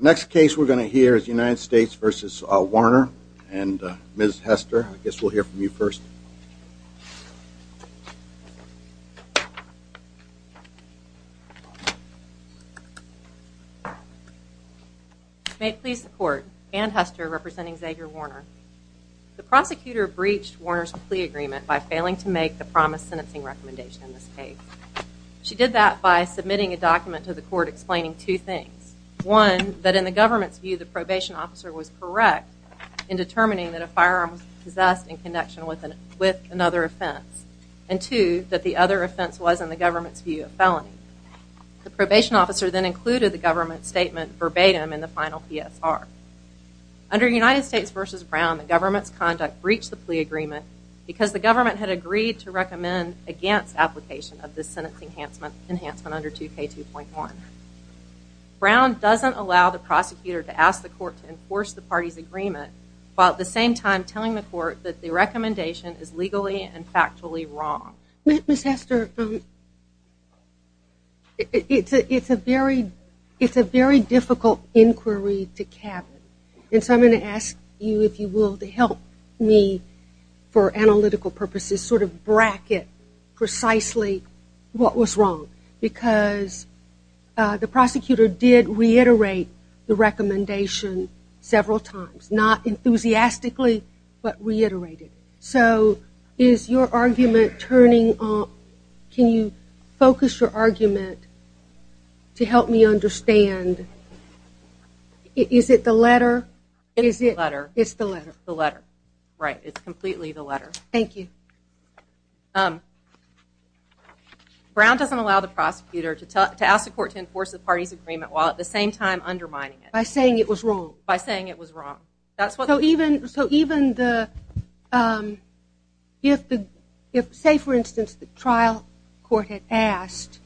Next case we're going to hear is United States v. Warner and Ms. Hester. I guess we'll hear from you first. May it please the court, Anne Hester representing Xayver Warner. The prosecutor breached Warner's plea agreement by failing to make the promised sentencing recommendation in this case. She did that by submitting a document to the court explaining two things. One, that in the government's view the probation officer was correct in determining that a firearm was possessed in connection with another offense. And two, that the other offense was, in the government's view, a felony. The probation officer then included the government's statement verbatim in the final PSR. Under United States v. Brown, the government's conduct breached the plea agreement because the government had agreed to recommend against application of this sentence enhancement under 2K2.1. Brown doesn't allow the prosecutor to ask the court to enforce the party's agreement while at the same time telling the court that the recommendation is legally and factually wrong. Ms. Hester, it's a very difficult inquiry to cap. And so I'm going to ask you, if you will, to help me, for analytical purposes, sort of bracket precisely what was wrong. Because the prosecutor did reiterate the recommendation several times. Not enthusiastically, but reiterated. So is your argument turning off? Can you focus your argument to help me understand? Is it the letter? It's the letter. Right, it's completely the letter. Thank you. Brown doesn't allow the prosecutor to ask the court to enforce the party's agreement while at the same time undermining it. By saying it was wrong. By saying it was wrong. So even if, say for instance, the trial court had asked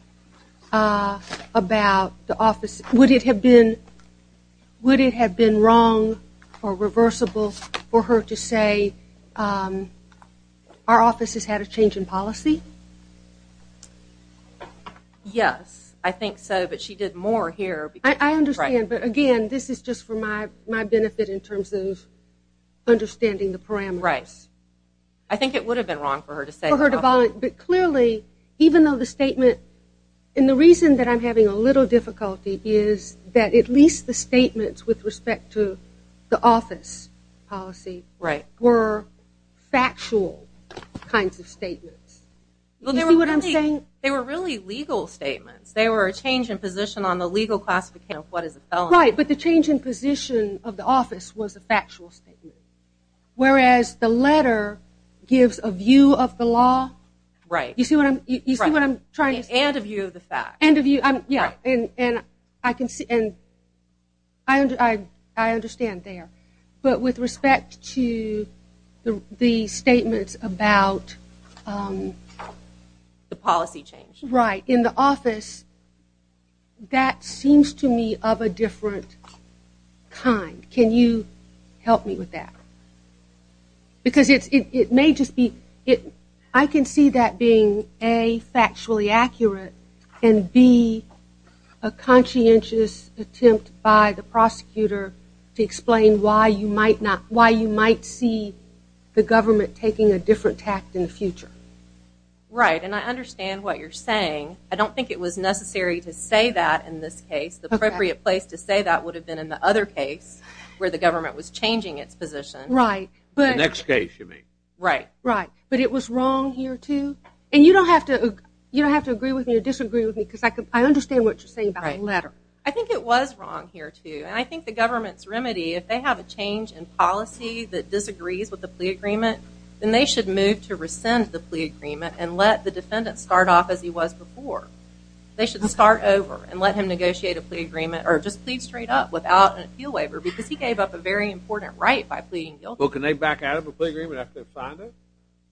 about the office, would it have been wrong or reversible for her to say our office has had a change in policy? Yes, I think so. But she did more here. I understand. But, again, this is just for my benefit in terms of understanding the parameters. Right. I think it would have been wrong for her to say the office. But clearly, even though the statement, and the reason that I'm having a little difficulty is that at least the statements with respect to the office policy were factual kinds of statements. Do you see what I'm saying? They were really legal statements. They were a change in position on the legal classification of what is a felony. Right, but the change in position of the office was a factual statement. Whereas the letter gives a view of the law. Right. You see what I'm trying to say? And a view of the facts. And a view, yeah. And I understand there. But with respect to the statements about the policy change. Right. In the office, that seems to me of a different kind. Can you help me with that? Because it may just be, I can see that being, A, factually accurate. And, B, a conscientious attempt by the prosecutor to explain why you might see the government taking a different tact in the future. Right, and I understand what you're saying. I don't think it was necessary to say that in this case. The appropriate place to say that would have been in the other case where the government was changing its position. Right. The next case, you mean. Right. Right. But it was wrong here, too? And you don't have to agree with me or disagree with me because I understand what you're saying about the letter. I think it was wrong here, too. And I think the government's remedy, if they have a change in policy that disagrees with the plea agreement, then they should move to rescind the plea agreement and let the defendant start off as he was before. They should start over and let him negotiate a plea agreement or just plead straight up without an appeal waiver because he gave up a very important right by pleading guilty. Well, can they back out of a plea agreement after they've signed it?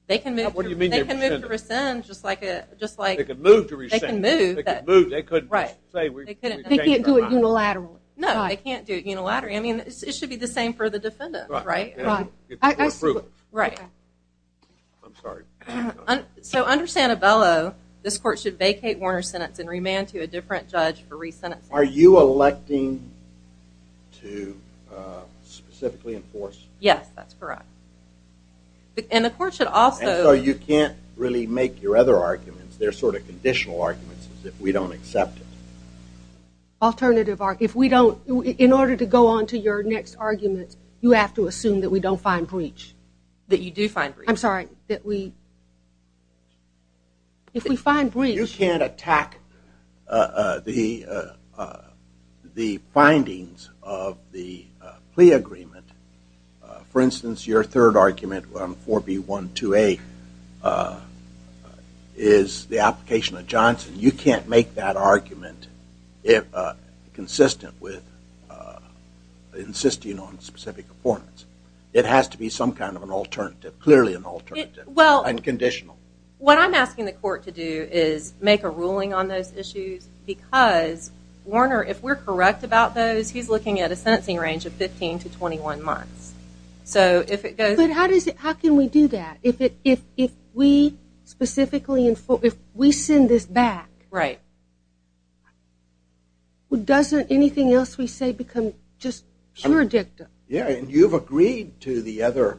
They can move to rescind just like. They can move to rescind. They can move. They can move. They couldn't just say we changed our mind. They can't do it unilaterally. No, they can't do it unilaterally. I mean, it should be the same for the defendant, right? Right. Or approved. Right. I'm sorry. So under Santabello, this court should vacate Warner's sentence and remand to a different judge for resentencing. Are you electing to specifically enforce? Yes, that's correct. And the court should also. And so you can't really make your other arguments. They're sort of conditional arguments as if we don't accept it. Alternative argument. If we don't, in order to go on to your next argument, you have to assume that we don't find breach. That you do find breach. I'm sorry. That we, if we find breach. You can't attack the findings of the plea agreement. For instance, your third argument on 4B12A is the application of Johnson. You can't make that argument consistent with insisting on specific performance. It has to be some kind of an alternative. Clearly an alternative. Well. And conditional. What I'm asking the court to do is make a ruling on those issues because Warner, if we're correct about those, he's looking at a sentencing range of 15 to 21 months. So if it goes. But how does it, how can we do that? If we specifically, if we send this back. Right. Doesn't anything else we say become just pure dictum? Yeah, and you've agreed to the other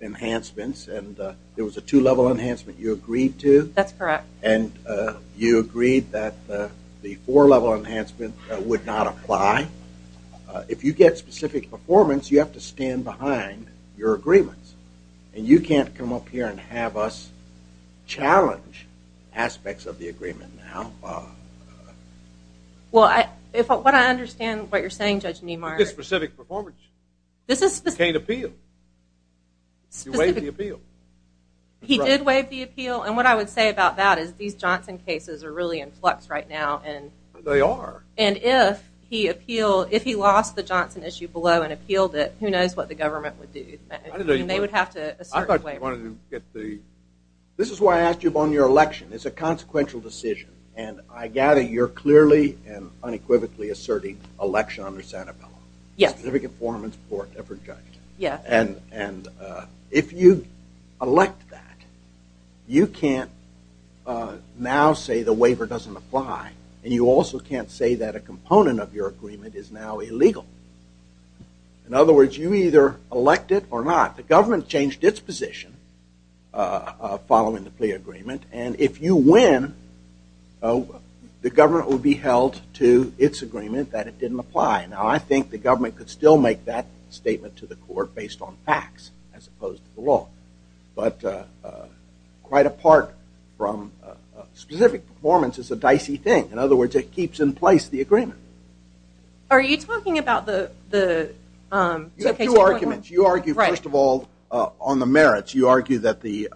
enhancements. And there was a two-level enhancement you agreed to. That's correct. And you agreed that the four-level enhancement would not apply. If you get specific performance, you have to stand behind your agreements. And you can't come up here and have us challenge aspects of the agreement now. Well, what I understand what you're saying, Judge Neimark. It's specific performance. This is specific. It's a cane appeal. You waived the appeal. He did waive the appeal. And what I would say about that is these Johnson cases are really in flux right now. They are. And if he appealed, if he lost the Johnson issue below and appealed it, who knows what the government would do. They would have to assert a waiver. This is why I asked you about your election. It's a consequential decision. And I gather you're clearly and unequivocally asserting election under Sanabella. Yes. Specific performance for every judge. Yes. And if you elect that, you can't now say the waiver doesn't apply. And you also can't say that a component of your agreement is now illegal. In other words, you either elect it or not. The government changed its position following the plea agreement. And if you win, the government will be held to its agreement that it didn't apply. Now, I think the government could still make that statement to the court based on facts as opposed to the law. But quite apart from specific performance is a dicey thing. In other words, it keeps in place the agreement. Are you talking about the 2K2.1? You have two arguments. You argue first of all on the merits. You argue that the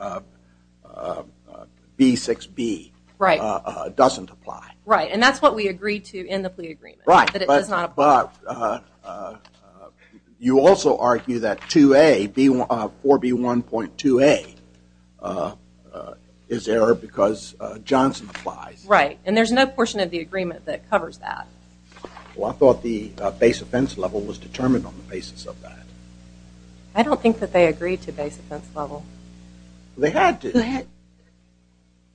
B6B doesn't apply. Right. And that's what we agreed to in the plea agreement. Right. That it does not apply. But you also argue that 2A, 4B1.2A is error because Johnson applies. Right. And there's no portion of the agreement that covers that. Well, I thought the base offense level was determined on the basis of that. I don't think that they agreed to base offense level. They had to.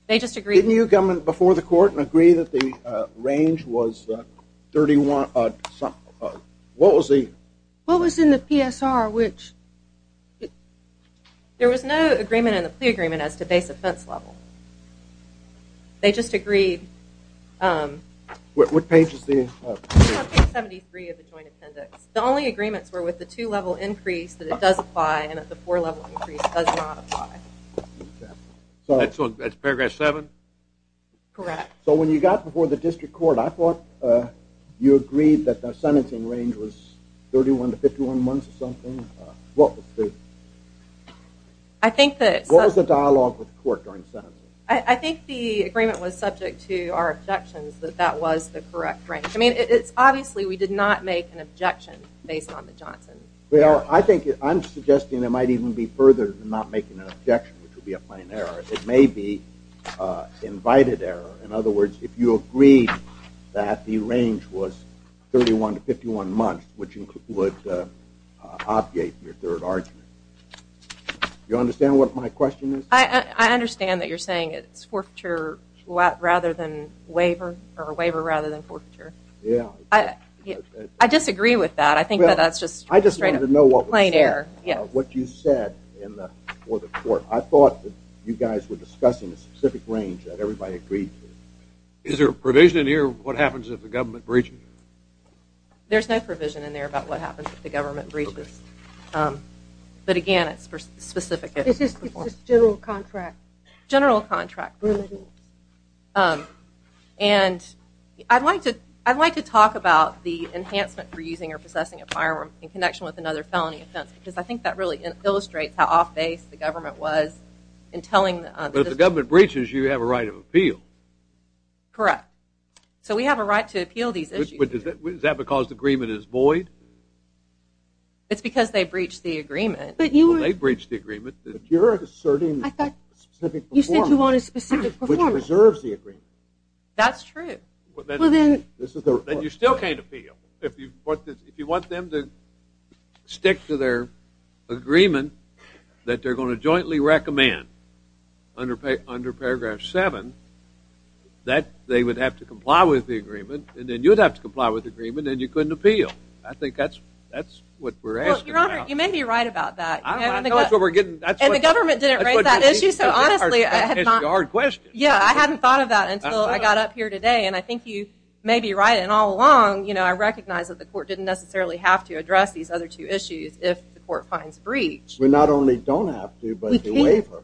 They just agreed. Didn't your government before the court agree that the range was 31? What was the? What was in the PSR which? There was no agreement in the plea agreement as to base offense level. They just agreed. What page is the? Page 73 of the joint appendix. The only agreements were with the two-level increase that it does apply and that the four-level increase does not apply. Okay. So that's Paragraph 7? Correct. So when you got before the district court, I thought you agreed that the sentencing range was 31 to 51 months or something. What was the? I think that. What was the dialogue with the court during the sentencing? I think the agreement was subject to our objections that that was the correct range. I mean, it's obviously we did not make an objection based on the Johnson. Well, I think I'm suggesting it might even be further than not making an objection, which would be a plain error. It may be invited error. In other words, if you agreed that the range was 31 to 51 months, which would obviate your third argument. You understand what my question is? I understand that you're saying it's forfeiture rather than waiver, or waiver rather than forfeiture. Yeah. I disagree with that. I think that that's just straight up plain error. I just wanted to know what you said for the court. I thought that you guys were discussing a specific range that everybody agreed to. Is there a provision in here of what happens if the government breaches? There's no provision in there about what happens if the government breaches. But, again, it's specific. It's just general contract. General contract. And I'd like to talk about the enhancement for using or possessing a firearm in connection with another felony offense, because I think that really illustrates how off-base the government was in telling. If the government breaches, you have a right of appeal. Correct. So we have a right to appeal these issues. Is that because the agreement is void? It's because they breached the agreement. Well, they breached the agreement. But you're asserting a specific performance. You said you want a specific performance. Which preserves the agreement. That's true. Well, then. Then you still can't appeal. If you want them to stick to their agreement that they're going to jointly recommend under Paragraph 7, that they would have to comply with the agreement, and then you'd have to comply with the agreement, and you couldn't appeal. I think that's what we're asking now. Well, Your Honor, you may be right about that. I know that's what we're getting at. And the government didn't raise that issue, so honestly. That's the hard question. Yeah, I hadn't thought of that until I got up here today, and I think you may be right. And all along, you know, I recognize that the court didn't necessarily have to address these other two issues if the court finds breach. We not only don't have to, but the waiver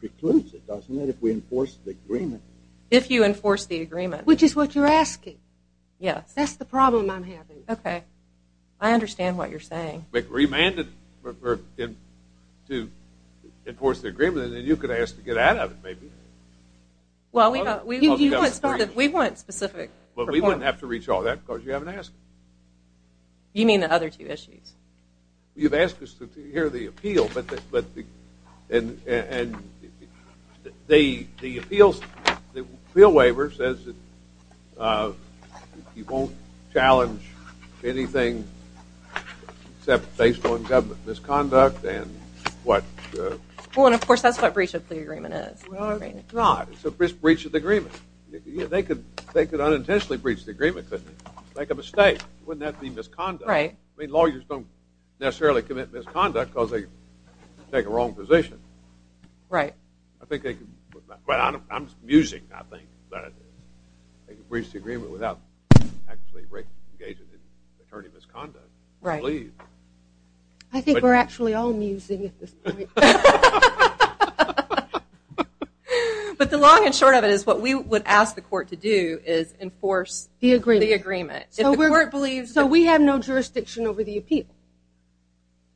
precludes it, doesn't it, if we enforce the agreement. If you enforce the agreement. Which is what you're asking. Yes. That's the problem I'm having. Okay. I understand what you're saying. But remanded to enforce the agreement, and then you could ask to get out of it, maybe. Well, we want specific performance. Well, we wouldn't have to reach all that because you haven't asked. You mean the other two issues? You've asked us to hear the appeal, and the appeal waiver says that you won't challenge anything except based on government misconduct and what. Well, and, of course, that's what breach of the agreement is. Well, it's not. It's a breach of the agreement. They could unintentionally breach the agreement, couldn't they? Make a mistake. Wouldn't that be misconduct? Right. I mean, lawyers don't necessarily commit misconduct because they take a wrong position. Right. I think they could. But I'm musing, I think, that they could breach the agreement without actually engaging an attorney of misconduct. Right. I believe. I think we're actually all musing at this point. But the long and short of it is what we would ask the court to do is enforce the agreement. So we have no jurisdiction over the appeal.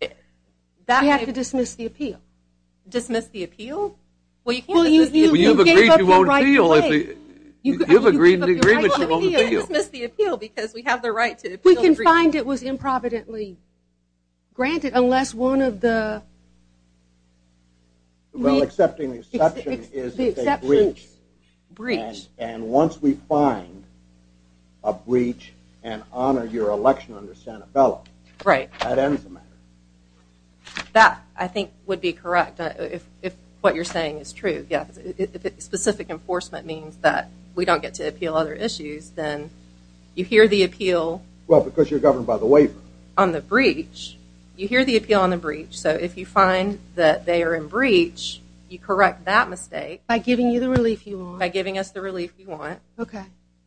We have to dismiss the appeal. Dismiss the appeal? Well, you can't dismiss the appeal because we have the right to appeal the agreement. We can find it was improvidently granted unless one of the... Well, accepting the exception is a breach. Breach. And once we find a breach and honor your election under Santabella. Right. That ends the matter. That, I think, would be correct if what you're saying is true. If specific enforcement means that we don't get to appeal other issues, then you hear the appeal... Well, because you're governed by the waiver. ...on the breach, you hear the appeal on the breach. So if you find that they are in breach, you correct that mistake... By giving you the relief you want. By giving us the relief we want. Okay.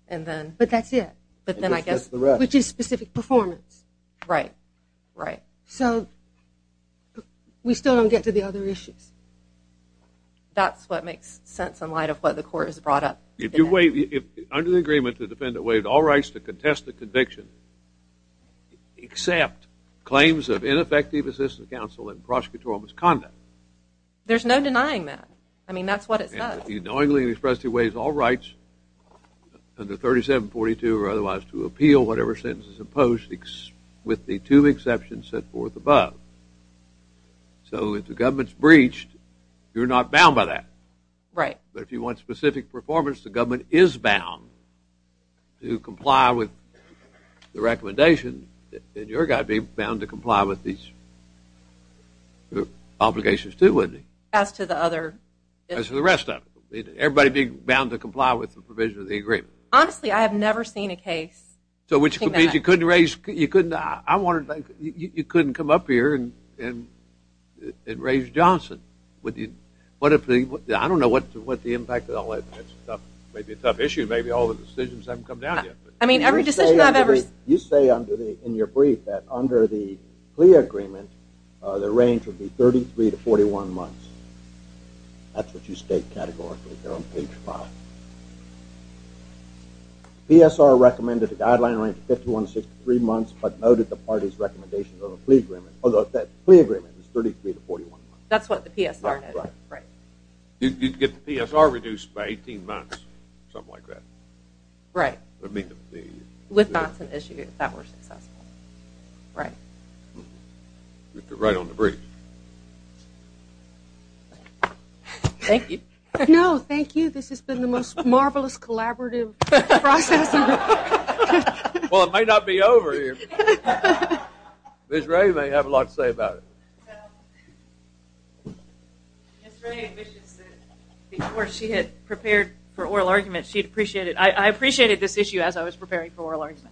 And then... But that's it. But then I guess... Just the rest. Which is specific performance. Right. Right. So we still don't get to the other issues. That's what makes sense in light of what the court has brought up. Under the agreement, the defendant waived all rights to contest the conviction except claims of ineffective assistance counsel and prosecutorial misconduct. There's no denying that. I mean, that's what it says. He knowingly expressed he waived all rights under 3742 or otherwise to appeal whatever sentence is imposed with the two exceptions set forth above. So if the government's breached, you're not bound by that. Right. But if you want specific performance, the government is bound to comply with the recommendation, and you're bound to comply with these obligations too, wouldn't you? As to the other... As to the rest of it. Everybody being bound to comply with the provision of the agreement. Honestly, I have never seen a case... So which means you couldn't raise... I wanted... You couldn't come up here and raise Johnson. What if the... I don't know what the impact of all that stuff. It may be a tough issue. Maybe all the decisions haven't come down yet. I mean, every decision I've ever... You say in your brief that under the plea agreement, the range would be 33 to 41 months. That's what you state categorically there on page 5. PSR recommended a guideline range of 51 to 63 months, but noted the party's recommendation of a plea agreement, although that plea agreement is 33 to 41 months. That's what the PSR noted. Right. You'd get the PSR reduced by 18 months, something like that. Right. I mean, the... With Johnson issued, if that were successful. Right. Right on the brief. Thank you. No, thank you. This has been the most marvelous collaborative process. Well, it might not be over here. Ms. Ray may have a lot to say about it. Ms. Ray wishes that before she had prepared for oral arguments, she'd appreciate it. I appreciated this issue as I was preparing for oral arguments.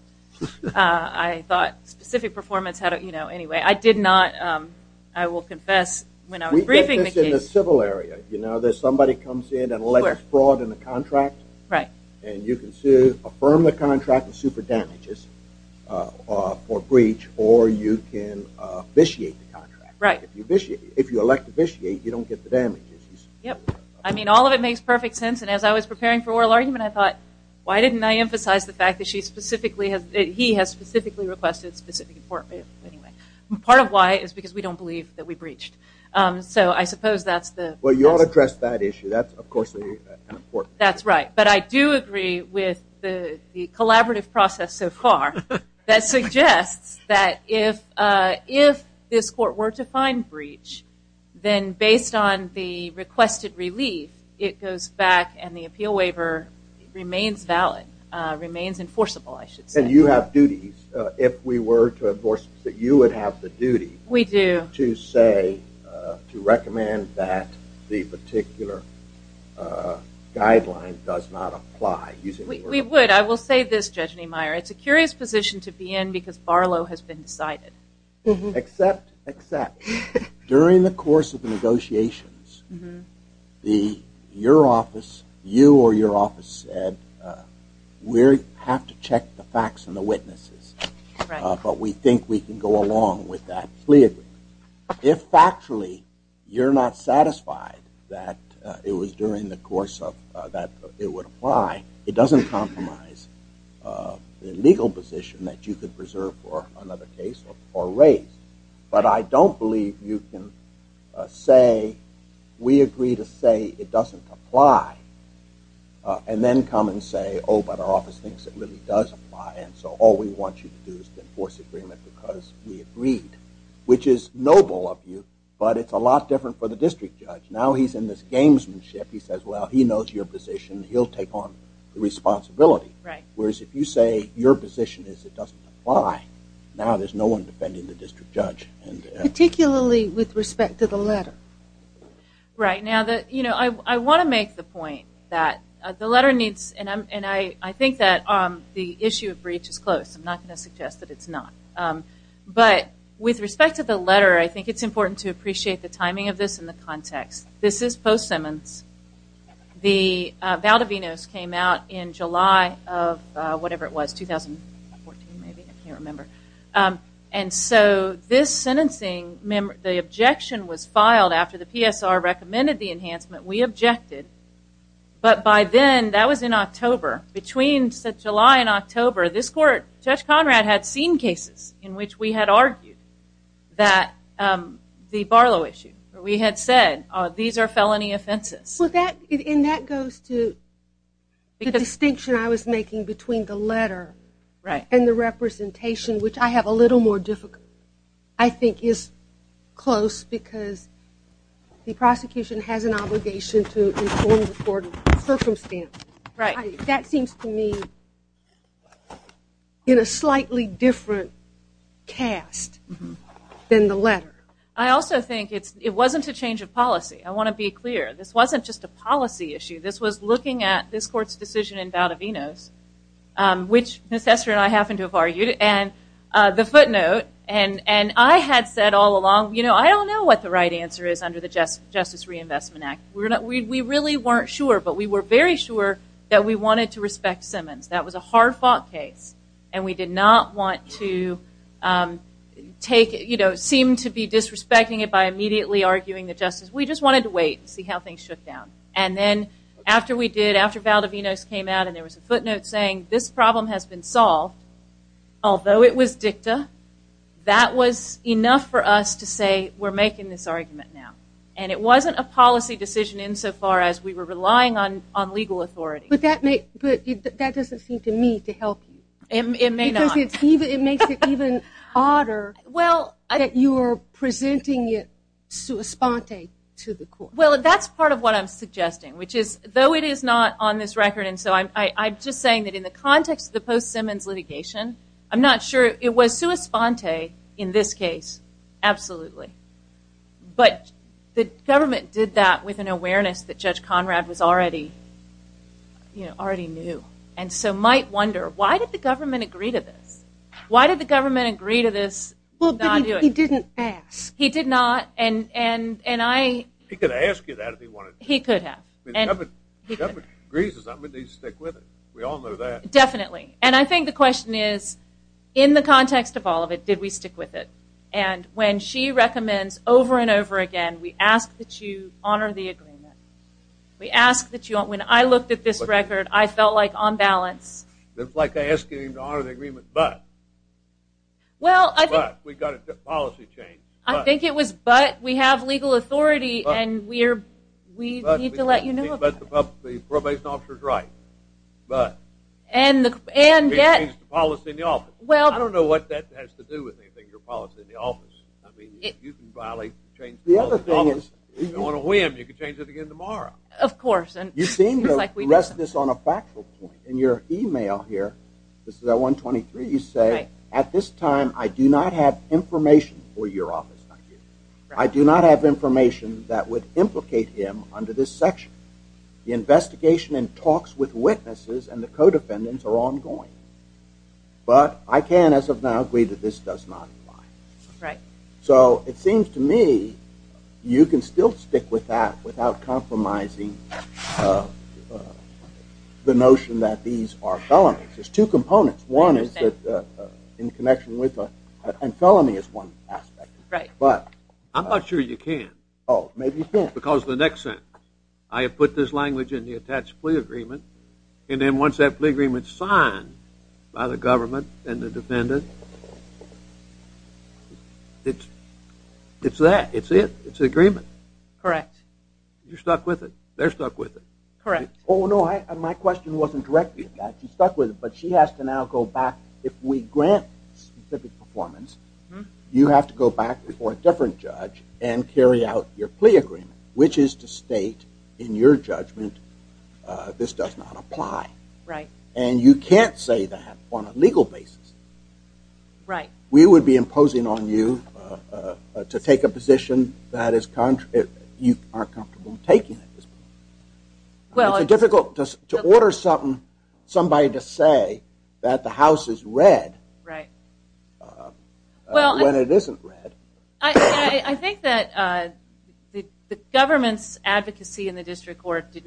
I thought specific performance had a, you know, anyway. I did not, I will confess, when I was briefing the case. We get this in the civil area. You know, there's somebody comes in and alleges fraud in a contract. Right. And you can affirm the contract and sue for damages for breach, or you can vitiate the contract. Right. If you elect to vitiate, you don't get the damages. Yep. I mean, all of it makes perfect sense, and as I was preparing for oral argument, I thought, why didn't I emphasize the fact that she specifically has, he has specifically requested specific important, anyway. Part of why is because we don't believe that we breached. So I suppose that's the. Well, you ought to address that issue. That's, of course, important. That's right. But I do agree with the collaborative process so far that suggests that if this court were to find breach, then based on the requested relief, it goes back and the appeal waiver remains valid, remains enforceable, I should say. And you have duties. If we were to enforce, you would have the duty. We do. To say, to recommend that the particular guideline does not apply. We would. I will say this, Judge Niemeyer, it's a curious position to be in because Barlow has been decided. Except, except, during the course of the negotiations, your office, you or your office said, we have to check the facts and the witnesses. Correct. But we think we can go along with that. We agree. If factually you're not satisfied that it was during the course of, that it would apply, it doesn't compromise the legal position that you could preserve for another case or raise. But I don't believe you can say we agree to say it doesn't apply and then come and say, oh, but our office thinks it really does apply, and so all we want you to do is enforce agreement because we agreed, which is noble of you, but it's a lot different for the district judge. Now he's in this gamesmanship. He says, well, he knows your position. He'll take on the responsibility. Right. Whereas if you say your position is it doesn't apply, now there's no one defending the district judge. Particularly with respect to the letter. Right. Now, I want to make the point that the letter needs, and I think that the issue of breach is close. I'm not going to suggest that it's not. But with respect to the letter, I think it's important to appreciate the timing of this and the context. This is post-Simmons. The Valdivinos came out in July of whatever it was, 2014 maybe. I can't remember. And so this sentencing, the objection was filed after the PSR recommended the enhancement. We objected. But by then, that was in October. Between July and October, this court, Judge Conrad had seen cases in which we had argued that the Barlow issue, we had said these are felony offenses. And that goes to the distinction I was making between the letter and the representation, which I have a little more difficulty, I think is close because the prosecution has an obligation to inform the court of the circumstance. That seems to me in a slightly different cast than the letter. I also think it wasn't a change of policy. I want to be clear. This wasn't just a policy issue. This was looking at this court's decision in Valdivinos, which Ms. Hester and I happened to have argued. And the footnote, and I had said all along, I don't know what the right answer is under the Justice Reinvestment Act. We really weren't sure. But we were very sure that we wanted to respect Simmons. That was a hard-fought case. And we did not want to take it, you know, seem to be disrespecting it by immediately arguing the justice. We just wanted to wait and see how things shook down. And then after we did, after Valdivinos came out and there was a footnote saying this problem has been solved, although it was dicta, that was enough for us to say we're making this argument now. And it wasn't a policy decision insofar as we were relying on legal authority. But that doesn't seem to me to help you. It may not. Because it makes it even harder that you're presenting it sua sponte to the court. Well, that's part of what I'm suggesting, which is though it is not on this record, and so I'm just saying that in the context of the post-Simmons litigation, I'm not sure it was sua sponte in this case, absolutely. But the government did that with an awareness that Judge Conrad was already, you know, already knew. And so might wonder, why did the government agree to this? Why did the government agree to this? Well, he didn't ask. He did not. He could have asked you that if he wanted to. He could have. If the government agrees to something, we need to stick with it. We all know that. Definitely. And I think the question is in the context of all of it, did we stick with it? And when she recommends over and over again, we ask that you honor the agreement. We ask that you don't. When I looked at this record, I felt like on balance. It's like asking him to honor the agreement but. But. We've got a policy change. I think it was but. We have legal authority, and we need to let you know. But the probation officer is right. But. And yet. Change the policy in the office. Well. I don't know what that has to do with anything, your policy in the office. I mean, you can violate the change in the office. The other thing is. If you don't want to win, you can change it again tomorrow. Of course. You seem to rest this on a factual point. In your email here, this is at 123, you say. At this time, I do not have information for your office. I do not have information that would implicate him under this section. The investigation and talks with witnesses and the co-defendants are ongoing. But I can, as of now, agree that this does not apply. Right. So it seems to me you can still stick with that without compromising the notion that these are felonies. There's two components. One is that in connection with a felony is one aspect. Right. But. I'm not sure you can. Oh, maybe you can't. Because the next sentence. I have put this language in the attached plea agreement. And then once that plea agreement is signed by the government and the defendant, it's that. It's it. It's an agreement. Correct. You're stuck with it. They're stuck with it. Correct. Oh, no. My question wasn't directly to that. She's stuck with it. But she has to now go back. If we grant specific performance, you have to go back before a different judge and carry out your plea agreement. Which is to state in your judgment this does not apply. Right. And you can't say that on a legal basis. Right. We would be imposing on you to take a position that you aren't comfortable taking at this point. Well. It's difficult to order somebody to say that the house is red. Right. When it isn't red. I think that the government's advocacy in the district court did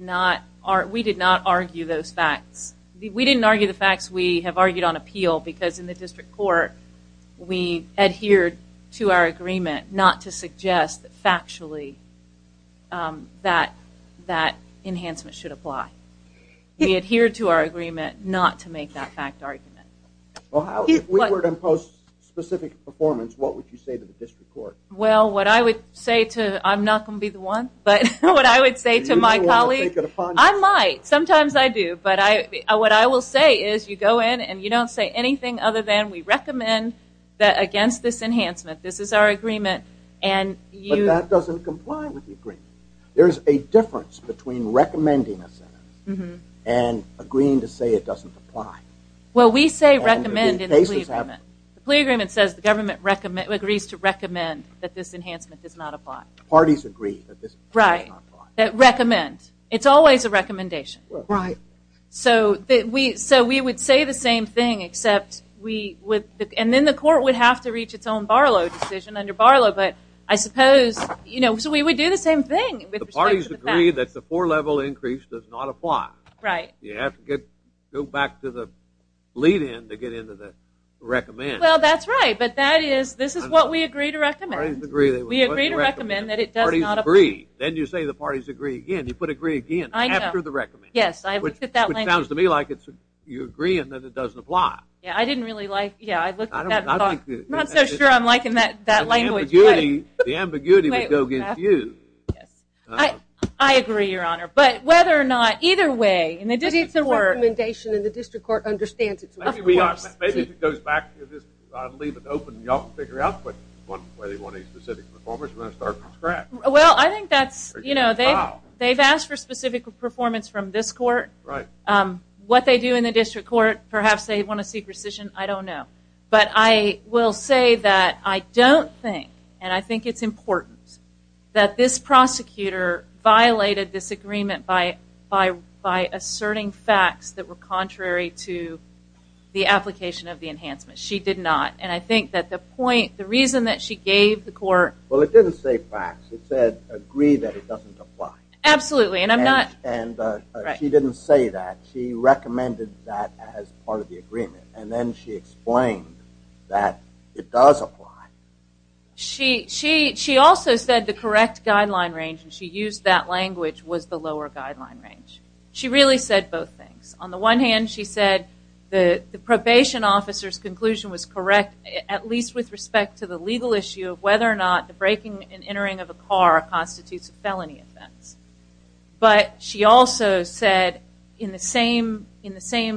not argue those facts. We didn't argue the facts. We have argued on appeal because in the district court we adhered to our agreement not to suggest that factually that enhancement should apply. We adhered to our agreement not to make that fact argument. If we were to impose specific performance, what would you say to the district court? Well, what I would say to, I'm not going to be the one, but what I would say to my colleague, I might. Sometimes I do. But what I will say is you go in and you don't say anything other than we recommend that against this enhancement. This is our agreement. But that doesn't comply with the agreement. There is a difference between recommending a sentence and agreeing to say it doesn't apply. Well, we say recommend in the plea agreement. The plea agreement says the government agrees to recommend that this enhancement does not apply. Parties agree that this enhancement does not apply. Right. That recommend. It's always a recommendation. Right. So we would say the same thing except we would, and then the court would have to reach its own Barlow decision under Barlow. But I suppose, you know, so we would do the same thing with respect to the fact. The parties agree that the four-level increase does not apply. Right. You have to go back to the lead-in to get into the recommend. Well, that's right. But that is, this is what we agree to recommend. We agree to recommend that it does not apply. Parties agree. Then you say the parties agree again. You put agree again after the recommend. Yes, I looked at that language. Which sounds to me like you're agreeing that it doesn't apply. Yeah, I didn't really like, yeah, I looked at that thought. The ambiguity would go confused. I agree, Your Honor. But whether or not, either way, in the district court. It's a recommendation and the district court understands it. Maybe if it goes back to this, leave it open and y'all can figure it out. But whether you want a specific performance, you're going to start from scratch. Well, I think that's, you know, they've asked for specific performance from this court. Right. What they do in the district court, perhaps they want to see precision, I don't know. But I will say that I don't think, and I think it's important, that this prosecutor violated this agreement by asserting facts that were contrary to the application of the enhancement. She did not. And I think that the point, the reason that she gave the court. Well, it didn't say facts. It said agree that it doesn't apply. Absolutely, and I'm not. She recommended that as part of the agreement. And then she explained that it does apply. She also said the correct guideline range, and she used that language, was the lower guideline range. She really said both things. On the one hand, she said the probation officer's conclusion was correct, at least with respect to the legal issue of whether or not the breaking and entering of a car constitutes a felony offense. But she also said in the same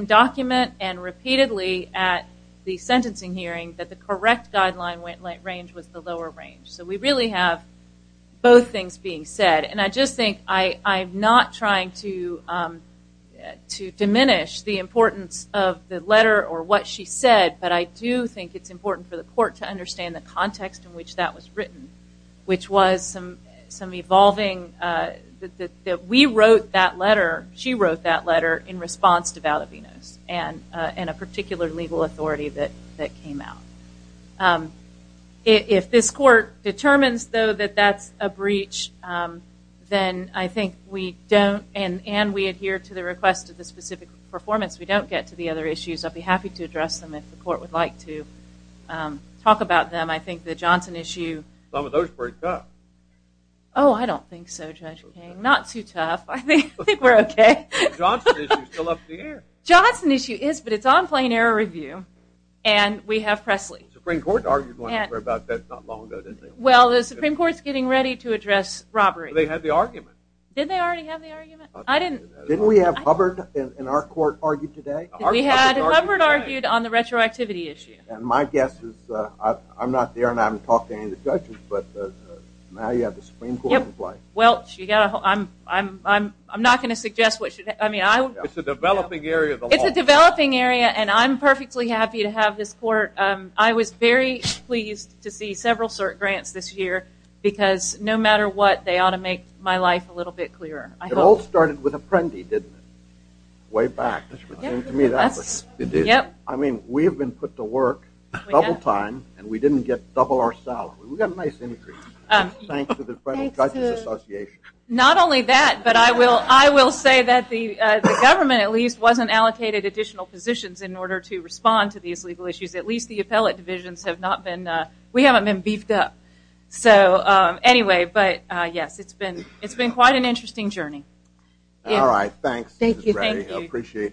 document and repeatedly at the sentencing hearing, that the correct guideline range was the lower range. So we really have both things being said. And I just think I'm not trying to diminish the importance of the letter or what she said, but I do think it's important for the court to understand the context in which that was written, which was some evolving. We wrote that letter. She wrote that letter in response to valid venous and a particular legal authority that came out. If this court determines, though, that that's a breach, then I think we don't, and we adhere to the request of the specific performance, we don't get to the other issues. I'd be happy to address them if the court would like to talk about them. I think the Johnson issue. Some of those were tough. Oh, I don't think so, Judge King. Not too tough. I think we're okay. The Johnson issue is still up in the air. The Johnson issue is, but it's on plain error review, and we have Presley. The Supreme Court argued one about that not long ago, didn't they? Well, the Supreme Court's getting ready to address robbery. They had the argument. Did they already have the argument? I didn't. Didn't we have Hubbard in our court argue today? We had Hubbard argued on the retroactivity issue. My guess is I'm not there, and I haven't talked to any of the judges, but now you have the Supreme Court in play. Welch, I'm not going to suggest what should happen. It's a developing area of the law. It's a developing area, and I'm perfectly happy to have this court. I was very pleased to see several cert grants this year because no matter what, they ought to make my life a little bit clearer. It all started with Apprendi, didn't it, way back? It seemed to me that way. It did. I mean, we have been put to work double time, and we didn't get double our salary. We got a nice increase. Thanks to the Federal Judges Association. Not only that, but I will say that the government at least wasn't allocated additional positions in order to respond to these legal issues. At least the appellate divisions have not been. We haven't been beefed up. So, anyway, but, yes, it's been quite an interesting journey. All right, thanks. Thank you. Thank you. We appreciate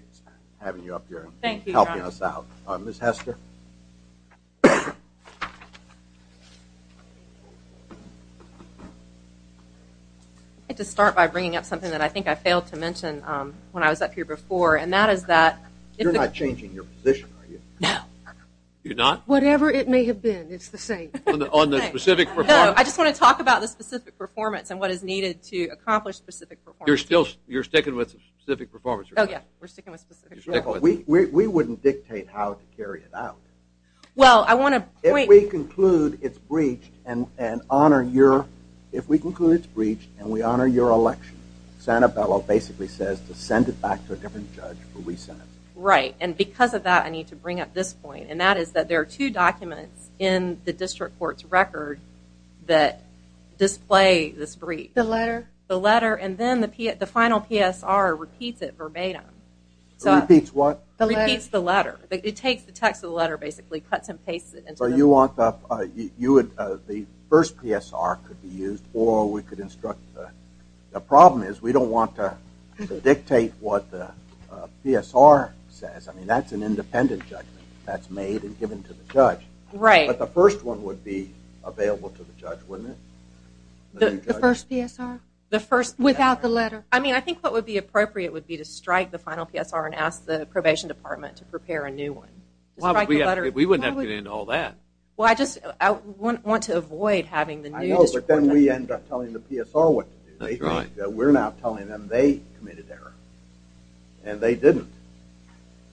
having you up here and helping us out. Ms. Hester? I'd like to start by bringing up something that I think I failed to mention when I was up here before, and that is that you're not changing your position, are you? No. You're not? Whatever it may have been, it's the same. On the specific performance? No, I just want to talk about the specific performance and what is needed to accomplish specific performance. You're sticking with specific performance? Oh, yes. We're sticking with specific performance. We wouldn't dictate how to carry it out. Well, I want to – If we conclude it's breached and we honor your election, Santabello basically says to send it back to a different judge for re-sentencing. Right, and because of that, I need to bring up this point, and that is that there are two documents in the district court's record that display this breach. The letter? The letter, and then the final PSR repeats it verbatim. It repeats what? It repeats the letter. It takes the text of the letter, basically, cuts and pastes it. The first PSR could be used, or we could instruct – the problem is we don't want to dictate what the PSR says. I mean, that's an independent judgment that's made and given to the judge. Right. But the first one would be available to the judge, wouldn't it? The first PSR? The first PSR. Without the letter? I mean, I think what would be appropriate would be to strike the final PSR and ask the probation department to prepare a new one. We wouldn't have to get into all that. Well, I just want to avoid having the new district court judge. I know, but then we end up telling the PSR what to do. We're now telling them they committed error, and they didn't.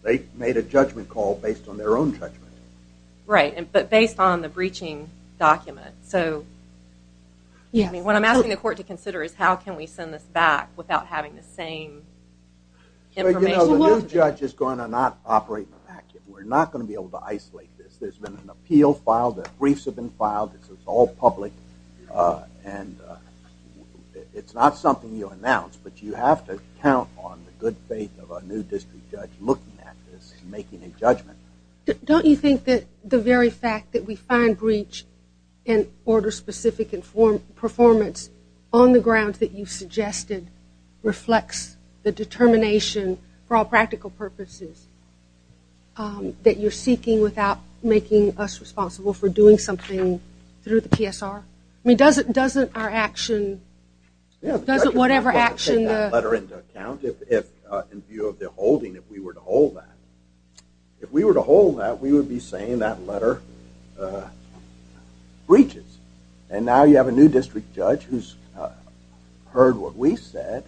They made a judgment call based on their own judgment. Right, but based on the breaching document. Yes. What I'm asking the court to consider is how can we send this back without having the same information. The new judge is going to not operate immaculate. We're not going to be able to isolate this. There's been an appeal filed. The briefs have been filed. This is all public. It's not something you announce, but you have to count on the good faith of a new district judge looking at this and making a judgment. Don't you think that the very fact that we find breach and order-specific performance on the grounds that you suggested reflects the determination for all practical purposes that you're seeking without making us responsible for doing something through the PSR? I mean, doesn't our action, doesn't whatever action the – If we were to hold that, we would be saying that letter breaches, and now you have a new district judge who's heard what we said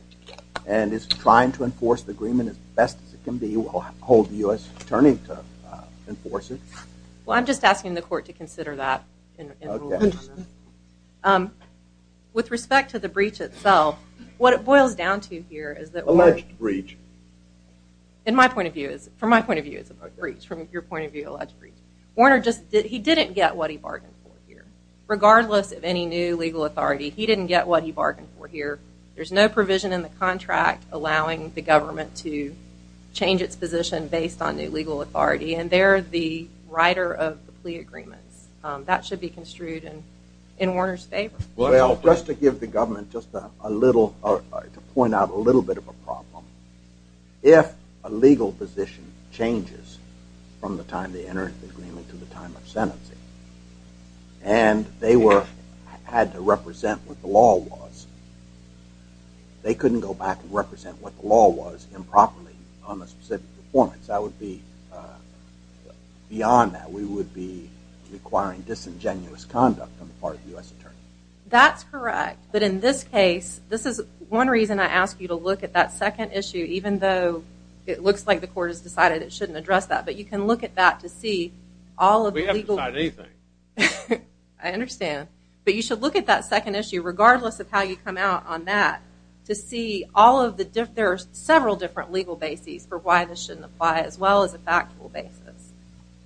and is trying to enforce the agreement as best as it can be or hold the U.S. Attorney to enforce it. Well, I'm just asking the court to consider that. Okay. With respect to the breach itself, what it boils down to here is that we're – Alleged breach. From my point of view, it's a breach. From your point of view, alleged breach. Warner just – he didn't get what he bargained for here. Regardless of any new legal authority, he didn't get what he bargained for here. There's no provision in the contract allowing the government to change its position based on new legal authority, and they're the writer of the plea agreements. That should be construed in Warner's favor. Well, just to give the government just a little – to point out a little bit of a problem, if a legal position changes from the time they entered the agreement to the time of sentencing, and they were – had to represent what the law was, they couldn't go back and represent what the law was improperly on a specific performance. That would be – beyond that, we would be requiring disingenuous conduct on the part of the U.S. attorney. That's correct. But in this case, this is one reason I ask you to look at that second issue, even though it looks like the court has decided it shouldn't address that. But you can look at that to see all of the legal – We haven't decided anything. I understand. But you should look at that second issue, regardless of how you come out on that, to see all of the – there are several different legal bases for why this shouldn't apply, as well as a factual basis.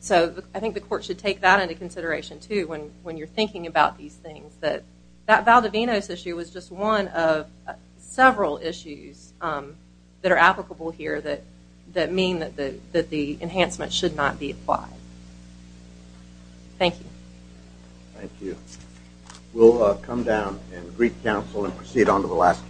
So I think the court should take that into consideration, too, when you're thinking about these things, that that Valdovinos issue was just one of several issues that are applicable here that mean that the enhancement should not be applied. Thank you. Thank you. We'll come down and brief counsel and proceed on to the last case.